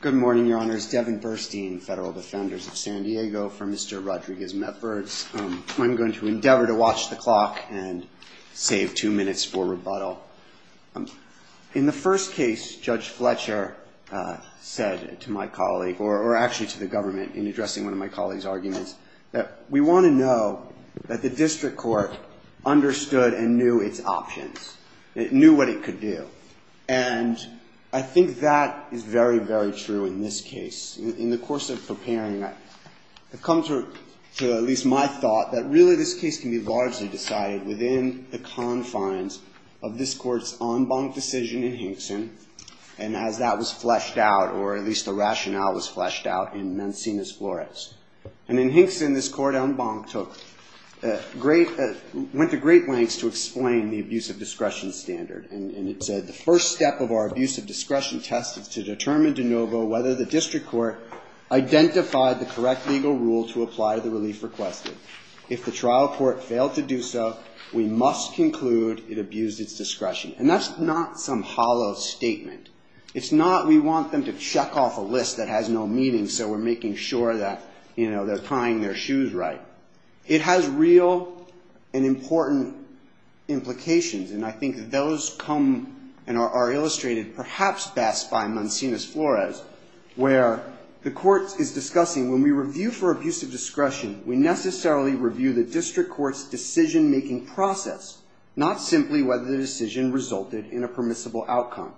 Good morning, Your Honors. Devin Burstein, Federal Defenders of San Diego, for Mr. Rodriguez-Mepfords. I'm going to endeavor to watch the clock and save two minutes for rebuttal. In the first case, Judge Fletcher said to my colleague, or actually to the government in addressing one of my colleagues' arguments, that we want to know that the district court understood and knew its options. It knew what it could do. And I think that is very, very true in this case. In the course of preparing, I've come to at least my thought that really this case can be largely decided within the confines of this court's en banc decision in Hinkson, and as that was fleshed out, or at least the rationale was fleshed out in Mancinas-Flores. And in Hinkson, this court en banc went to great lengths to explain the abuse of discretion standard. And it said, the first step of our abuse of discretion test is to determine de novo whether the district court identified the correct legal rule to apply the relief requested. If the trial court failed to do so, we must conclude it abused its discretion. And that's not some hollow statement. It's not we want them to check off a list that has no meaning, so we're making sure that they're tying their shoes right. It has real and important implications. And I think those come and are illustrated perhaps best by Mancinas-Flores, where the court is discussing, when we review for abuse of discretion, we necessarily review the district court's decision making process, not simply whether the decision resulted in a permissible outcome.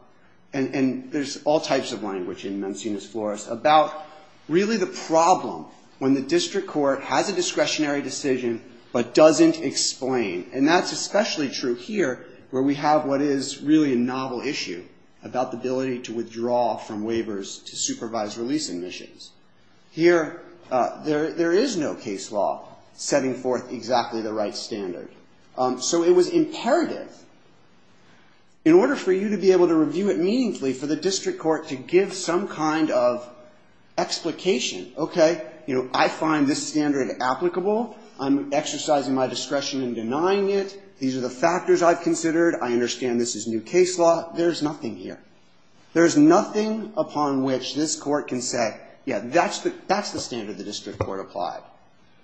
And there's all types of language in Mancinas-Flores about really the problem when the district court has a discretionary decision but doesn't explain. And that's especially true here, where we have what is really a novel issue about the ability to withdraw from waivers to supervise release admissions. Here, there is no case law setting forth exactly the right standard. So it was imperative, in order for you to be able to review it meaningfully, for the district court to give some kind of explication. OK, I find this standard applicable. I'm exercising my discretion in denying it. These are the factors I've considered. I understand this is new case law. There's nothing here. There's nothing upon which this court can say, yeah, that's the standard the district court applied.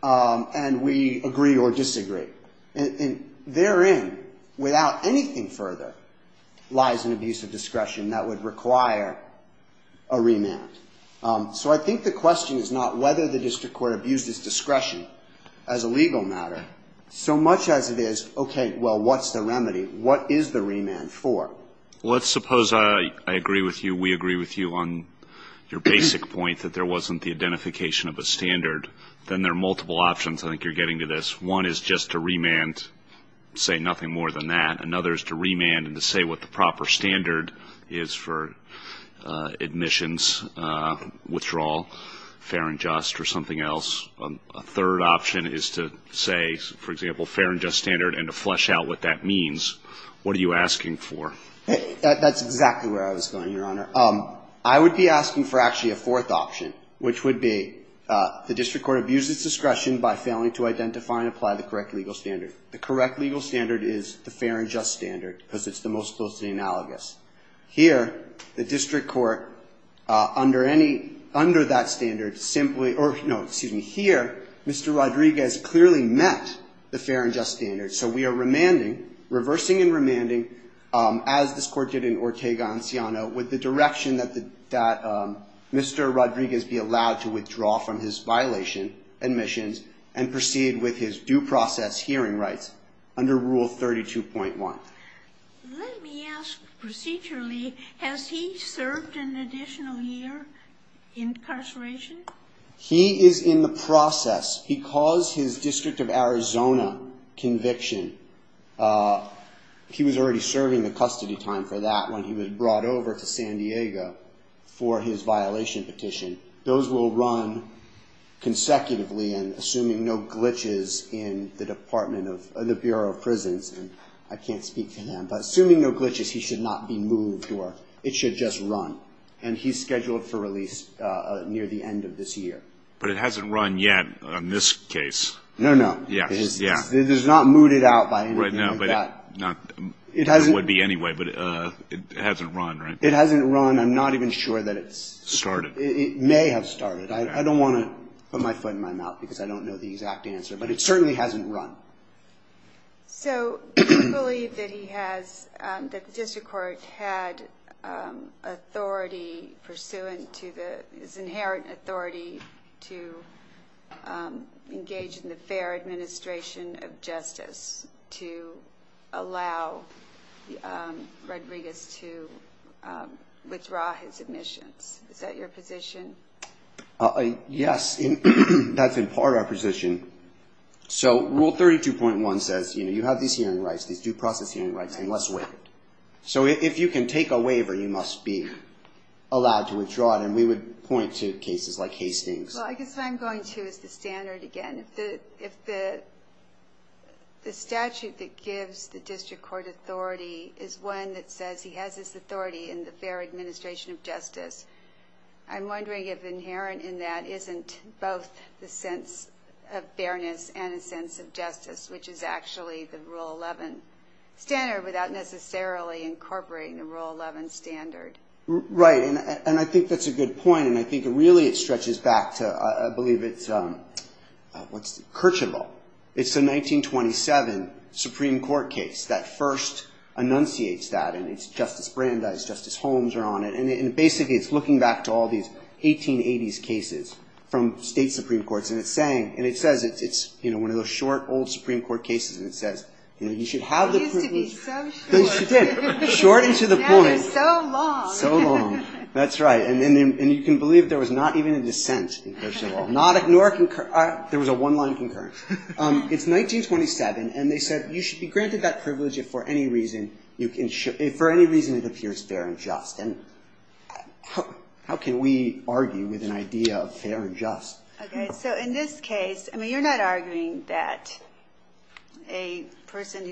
And we agree or disagree. And therein, without anything further, lies an abuse of discretion that would require a remand. So I think the question is not whether the district court abused its discretion as a legal matter, so much as it is, OK, well, what's the remedy? What is the remand for? Let's suppose I agree with you, we agree with you on your basic point that there wasn't the identification of a standard. Then there are multiple options I think you're getting to this. One is just to remand, say nothing more than that. Another is to remand and to say what the proper standard is for admissions, withdrawal, fair and just, or something else. A third option is to say, for example, fair and just standard and to flesh out what that means. What are you asking for? That's exactly where I was going, Your Honor. I would be asking for actually a fourth option, which would be the district court abused its discretion by failing to identify and apply the correct legal standard. The correct legal standard is the fair and just standard, because it's the most closely analogous. Here, the district court, under that standard, simply, or no, excuse me, here, Mr. Rodriguez clearly met the fair and just standard. So we are remanding, reversing and remanding, as this court did in Ortega-Anciano with the direction that Mr. Rodriguez be allowed to withdraw from his violation admissions and proceed with his due process hearing rights under Rule 32.1. Let me ask procedurally, has he served an additional year incarceration? He is in the process. He caused his District of Arizona conviction. He was already serving the custody time for that when he was brought over to San Diego for his violation petition. no glitches in the Bureau of Prisons. I can't speak to him, but assuming no glitches, he should not be moved, or it should just run. And he's scheduled for release near the end of this year. But it hasn't run yet in this case. No, no, it is not mooted out by anything like that. It would be anyway, but it hasn't run, right? It hasn't run. I'm not even sure that it's started. It may have started. I don't want to put my foot in my mouth, because I don't know the exact answer. But it certainly hasn't run. So do you believe that he has, that the district court had authority pursuant to the, his inherent authority to engage in the fair administration of justice to allow Rodriguez to withdraw his admissions? Is that your position? Yes, that's in part our position. So rule 32.1 says, you have these hearing rights, these due process hearing rights, and let's waive it. So if you can take a waiver, you must be allowed to withdraw it. And we would point to cases like Hastings. Well, I guess what I'm going to is the standard again. If the statute that gives the district court authority is one that says he has this authority in the fair administration of justice, I'm wondering if inherent in that isn't both the sense of fairness and a sense of justice, which is actually the Rule 11 standard without necessarily incorporating the Rule 11 standard. Right, and I think that's a good point. And I think really it stretches back to, I believe, it's what's the, Kirchhoff. It's the 1927 Supreme Court case that first enunciates that. And it's Justice Brandeis, Justice Holmes are on it. And basically, it's looking back to all these 1880s cases from state Supreme Courts. And it's saying, and it says, it's one of those short, old Supreme Court cases. And it says, you should have the privilege. It used to be so short. It did. Short and to the point. Now they're so long. So long, that's right. And you can believe there was not even a dissent in Kirchhoff. There was a one-line concurrence. It's 1927, and they said, you should be granted that privilege if for any reason it appears fair and just. And how can we argue with an idea of fair and just? So in this case, you're not arguing that a person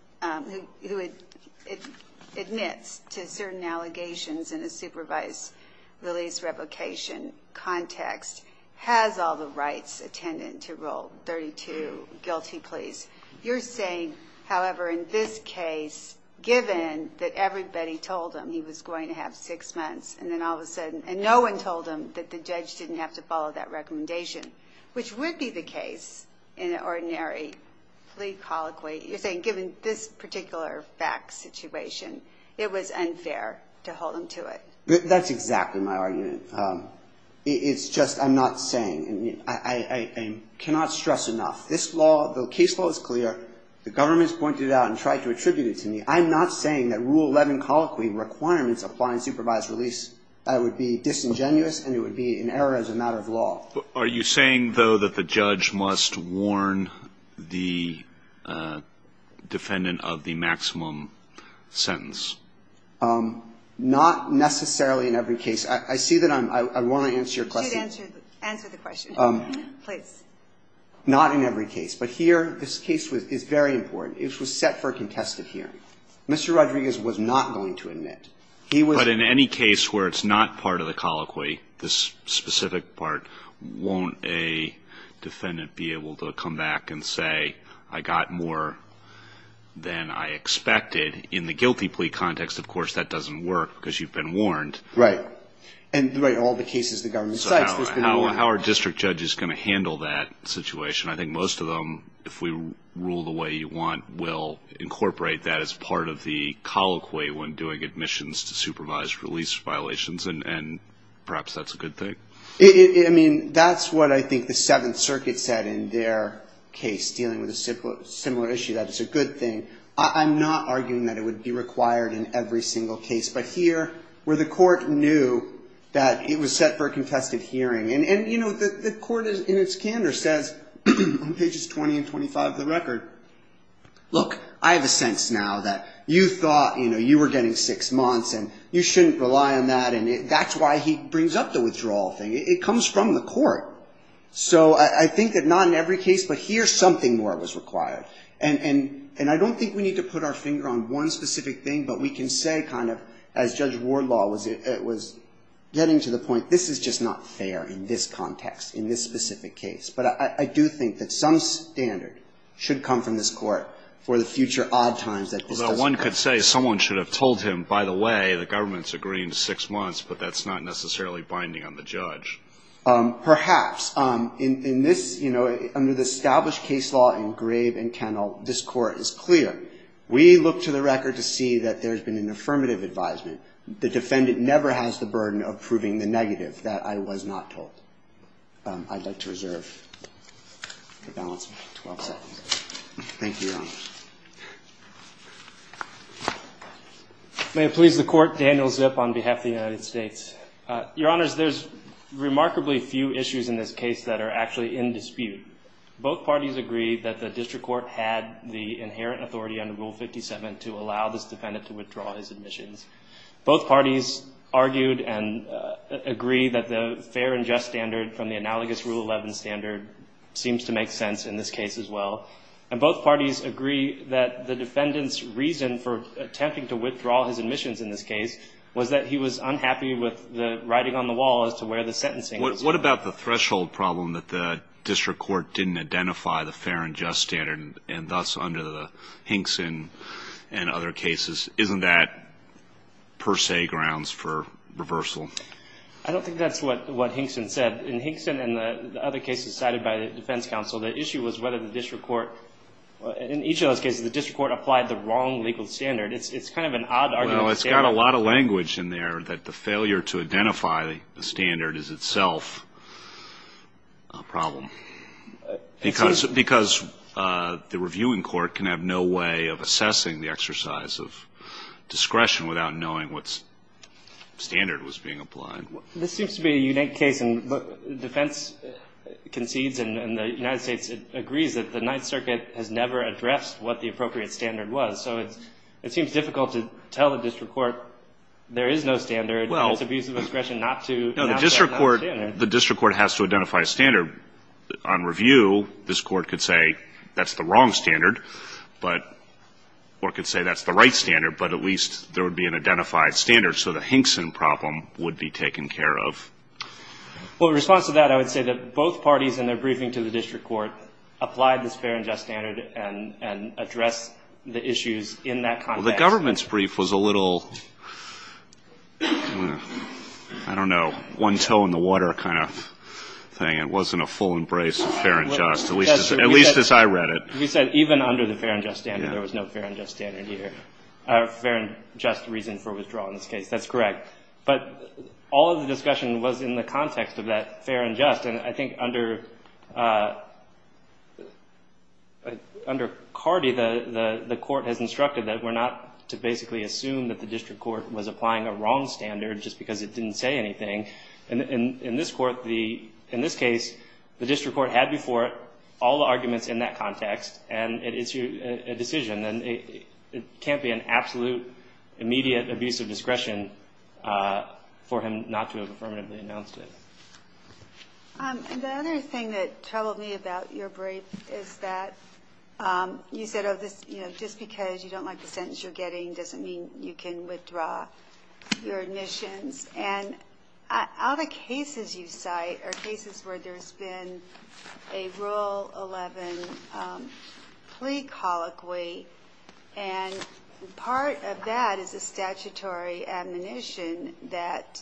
who admits to certain allegations in a supervised release replication context has all the rights attendant to rule 32 guilty pleas. You're saying, however, in this case, given that everybody told him he was going to have six months, and then all of a sudden, and no one told him that the judge didn't have to follow that recommendation, which would be the case in an ordinary plea colloquy. You're saying, given this particular fact situation, it was unfair to hold him to it. That's exactly my argument. It's just, I'm not saying, and I cannot stress enough. This law, the case law is clear. The government's pointed it out and tried to attribute it to me. I'm not saying that rule 11 colloquy requirements applying supervised release, that would be disingenuous and it would be an error as a matter of law. Are you saying, though, that the judge must warn the defendant of the maximum sentence? Not necessarily in every case. I see that I'm, I want to answer your question. You should answer the question, please. Not in every case. But here, this case is very important. It was set for a contested hearing. Mr. Rodriguez was not going to admit. He was. But in any case where it's not part of the colloquy, this specific part, won't a defendant be able to come back and say, I got more than I expected? In the guilty plea context, of course, that doesn't work because you've been warned. Right. And in all the cases the government cites, there's been a warning. So how are district judges going to handle that situation? I think most of them, if we rule the way you want, will incorporate that as part of the colloquy when doing admissions to supervise release violations. And perhaps that's a good thing. That's what I think the Seventh Circuit said in their case, dealing with a similar issue, that it's a good thing. I'm not arguing that it would be required in every single case. But here, where the court knew that it was set for a contested hearing. And the court, in its candor, says on pages 20 and 25 of the record, look, I have a sense now that you thought you were getting six months and you shouldn't rely on that. And that's why he brings up the withdrawal thing. It comes from the court. So I think that not in every case, but here's something where it was required. And I don't think we need to put our finger on one specific thing. But we can say, as Judge Wardlaw was getting to the point, this is just not fair in this context, in this specific case. But I do think that some standard should come from this court for the future odd times that this does occur. Although one could say someone should have told him, by the way, the government's agreeing to six months, but that's not necessarily binding on the judge. Perhaps. Under the established case law in Grave and Kennell, this court is clear. We look to the record to see that there's been an affirmative advisement. The defendant never has the burden of proving the negative, that I was not told. I'd like to reserve the balance of 12 seconds. Thank you, Your Honor. May it please the court, Daniel Zip on behalf of the United States. Your Honors, there's remarkably few issues in this case that are actually in dispute. Both parties agree that the district court had the inherent authority under Rule 57 to allow this defendant to withdraw his admissions. Both parties argued and agree that the fair and just standard from the analogous Rule 11 standard seems to make sense in this case as well. And both parties agree that the defendant's reason for attempting to withdraw his admissions in this case was that he was unhappy with the writing on the wall as to where the sentencing was. What about the threshold problem that the district court didn't identify the fair and just standard, and thus under the Hinkson and other cases? Isn't that per se grounds for reversal? I don't think that's what Hinkson said. In Hinkson and the other cases cited by the defense counsel, the issue was whether the district court, in each of those cases, the district court applied the wrong legal standard. It's kind of an odd argument. Well, it's got a lot of language in there that the failure to identify the standard is itself a problem. Because the reviewing court can have no way of assessing the exercise of discretion without knowing what standard was being applied. This seems to be a unique case. And defense concedes, and the United States agrees that the Ninth Circuit has never addressed what the appropriate standard was. So it seems difficult to tell the district court there is no standard, and it's abuse of discretion not to adopt that standard. The district court has to identify a standard. On review, this court could say that's the wrong standard, but, or could say that's the right standard, but at least there would be an identified standard. So the Hinkson problem would be taken care of. Well, in response to that, I would say that both parties in their briefing to the district court applied this fair and just standard and addressed the issues in that context. Well, the government's brief was a little, I don't know, one toe in the water kind of thing. It wasn't a full embrace of fair and just, at least as I read it. You said even under the fair and just standard, there was no fair and just standard here. Fair and just reason for withdrawal in this case. That's correct. But all of the discussion was in the context of that fair and just. And I think under Cardi, the court has instructed that we're not to basically assume that the district court was applying a wrong standard just because it didn't say anything. And in this court, in this case, the district court had before it all the arguments in that context. And it's a decision. And it can't be an absolute, immediate abuse of discretion for him not to have affirmatively announced it. And the other thing that troubled me about your brief is that you said just because you don't like the sentence you're getting doesn't mean you can withdraw your admissions. And all the cases you cite are cases where there's been a Rule 11 plea colloquy. And part of that is a statutory admonition that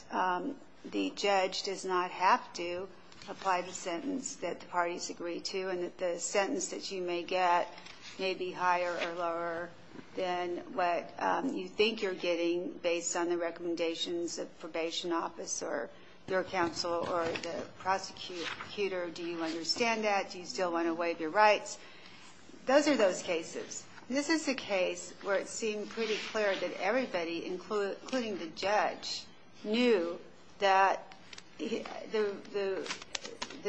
the judge does not have to apply the sentence that the parties agree to. And that the sentence that you may get may be higher or lower than what you think you're getting based on the recommendations of probation office or your counsel or the prosecutor. Do you understand that? Do you still want to waive your rights? Those are those cases. This is a case where it seemed pretty clear that everybody, including the judge, knew that the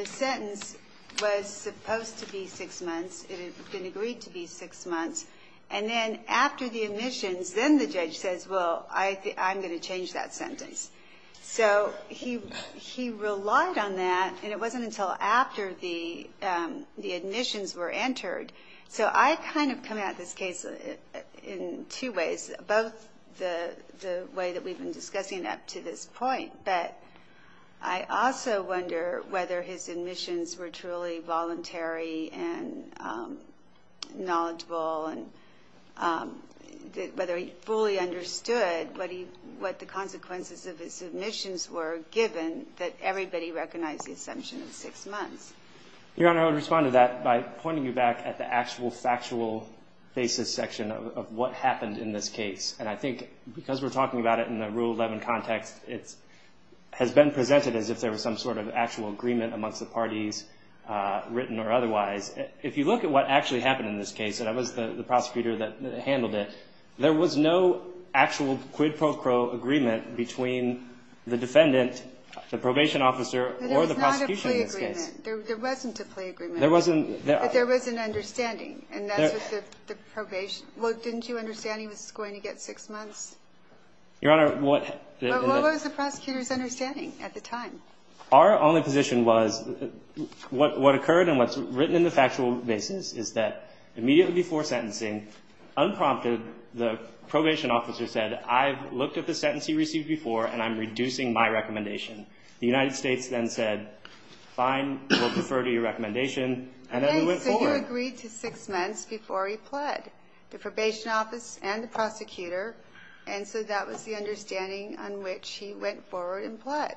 sentence was supposed to be six months. It had been agreed to be six months. And then after the admissions, then the judge says, well, I'm going to change that sentence. So he relied on that. And it wasn't until after the admissions were entered. So I kind of come at this case in two ways, both the way that we've been discussing it up to this point. But I also wonder whether his admissions were truly voluntary and knowledgeable, and whether he fully understood what the consequences of his admissions were, given that everybody recognized the assumption of six months. Your Honor, I would respond to that by pointing you back at the actual factual basis section of what happened in this case. And I think because we're talking about it in the Rule 11 context, it has been presented as if there was some sort of actual agreement amongst the parties, written or otherwise. If you look at what actually happened in this case, and I was the prosecutor that handled it, there was no actual quid pro quo agreement between the defendant, the probation officer, or the prosecution in this case. But there was not a plea agreement. There wasn't a plea agreement. There wasn't. But there was an understanding. And that's what the probation, well, didn't you understand he was going to get six months? Your Honor, what? But what was the prosecutor's understanding at the time? Our only position was, what occurred and what's written in the factual basis is that immediately before sentencing, unprompted, the probation officer said, I've looked at the sentence he received before, and I'm reducing my recommendation. The United States then said, fine, we'll defer to your recommendation. And then we went forward. So you agreed to six months before he pled the probation office and the prosecutor. And so that was the understanding on which he went forward and pled.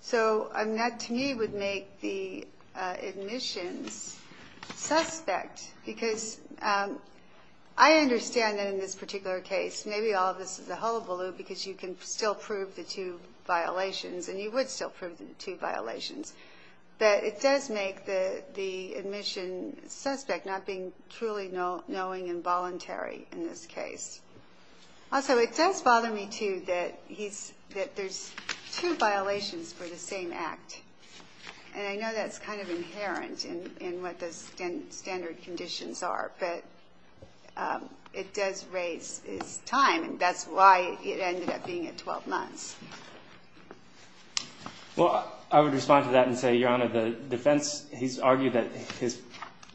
So that, to me, would make the admissions suspect. Because I understand that in this particular case, maybe all of this is a hullabaloo, because you can still prove the two violations. And you would still prove the two violations. But it does make the admission suspect not being truly knowing and voluntary in this case. Also, it does bother me, too, that there's two violations for the same act. And I know that's kind of inherent in what the standard conditions are. But it does raise his time. And that's why it ended up being at 12 months. Well, I would respond to that and say, that his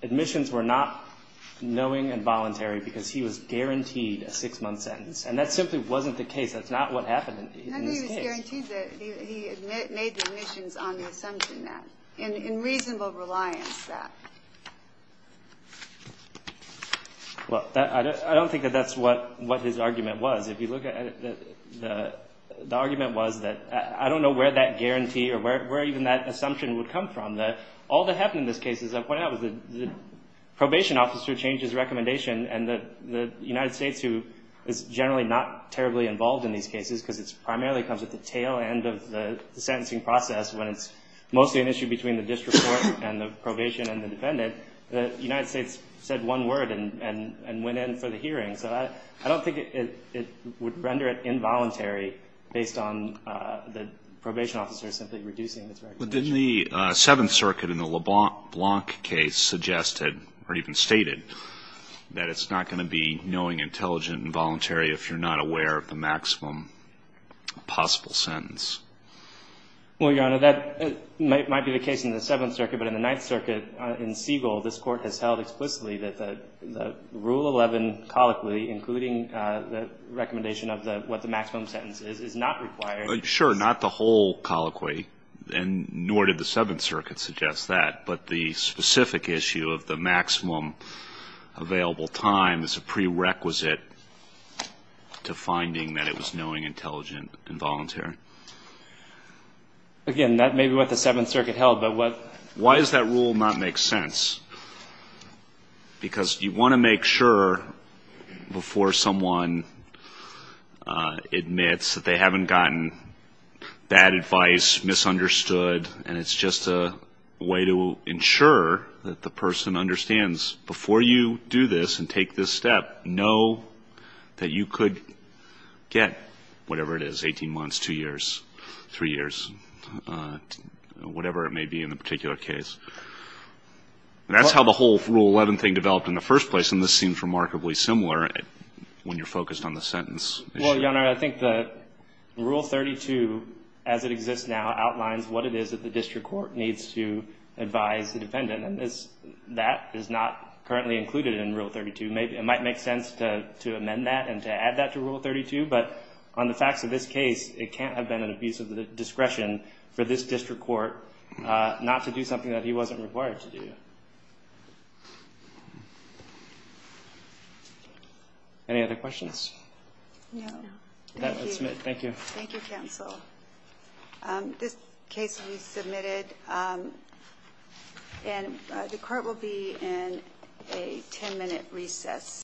admissions were not knowing and voluntary, because he was guaranteed a six-month sentence. And that simply wasn't the case. That's not what happened in this case. I think he was guaranteed that he made the admissions on the assumption that, in reasonable reliance, that. Well, I don't think that that's what his argument was. If you look at it, the argument was that I don't know where that guarantee or where even that assumption would come from. All that happened in this case is the probation officer changed his recommendation. And the United States, who is generally not terribly involved in these cases, because it primarily comes at the tail end of the sentencing process, when it's mostly an issue between the district court and the probation and the defendant, the United States said one word and went in for the hearing. So I don't think it would render it involuntary, based on the probation officer simply reducing its recommendation. But didn't the Seventh Circuit in the LeBlanc case suggested, or even stated, that it's not going to be knowing, intelligent, and voluntary if you're not aware of the maximum possible sentence? Well, Your Honor, that might be the case in the Seventh Circuit. But in the Ninth Circuit, in Siegel, this Court has held explicitly that the Rule 11 colloquy, including the recommendation of what the maximum sentence is, is not required. Sure, not the whole colloquy, nor did the Seventh Circuit suggest that. But the specific issue of the maximum available time is a prerequisite to finding that it was knowing, intelligent, and voluntary. Again, that may be what the Seventh Circuit held. Why does that rule not make sense? Because you want to make sure before someone admits that they haven't gotten bad advice, misunderstood, and it's just a way to ensure that the person understands before you do this and take this step, know that you could get whatever it is, 18 months, two years, three years, whatever it may be in the particular case. And that's how the whole Rule 11 thing developed in the first place. And this seems remarkably similar when you're focused on the sentence. Well, Your Honor, I think that Rule 32, as it exists now, outlines what it is that the district court needs to advise the defendant. And that is not currently included in Rule 32. It might make sense to amend that and to add that to Rule 32. But on the facts of this case, it can't have been an abuse of the discretion for this district court not to do something that he wasn't required to do. Any other questions? No. Thank you. Thank you, counsel. This case will be submitted, and the court will be in a 10-minute recess.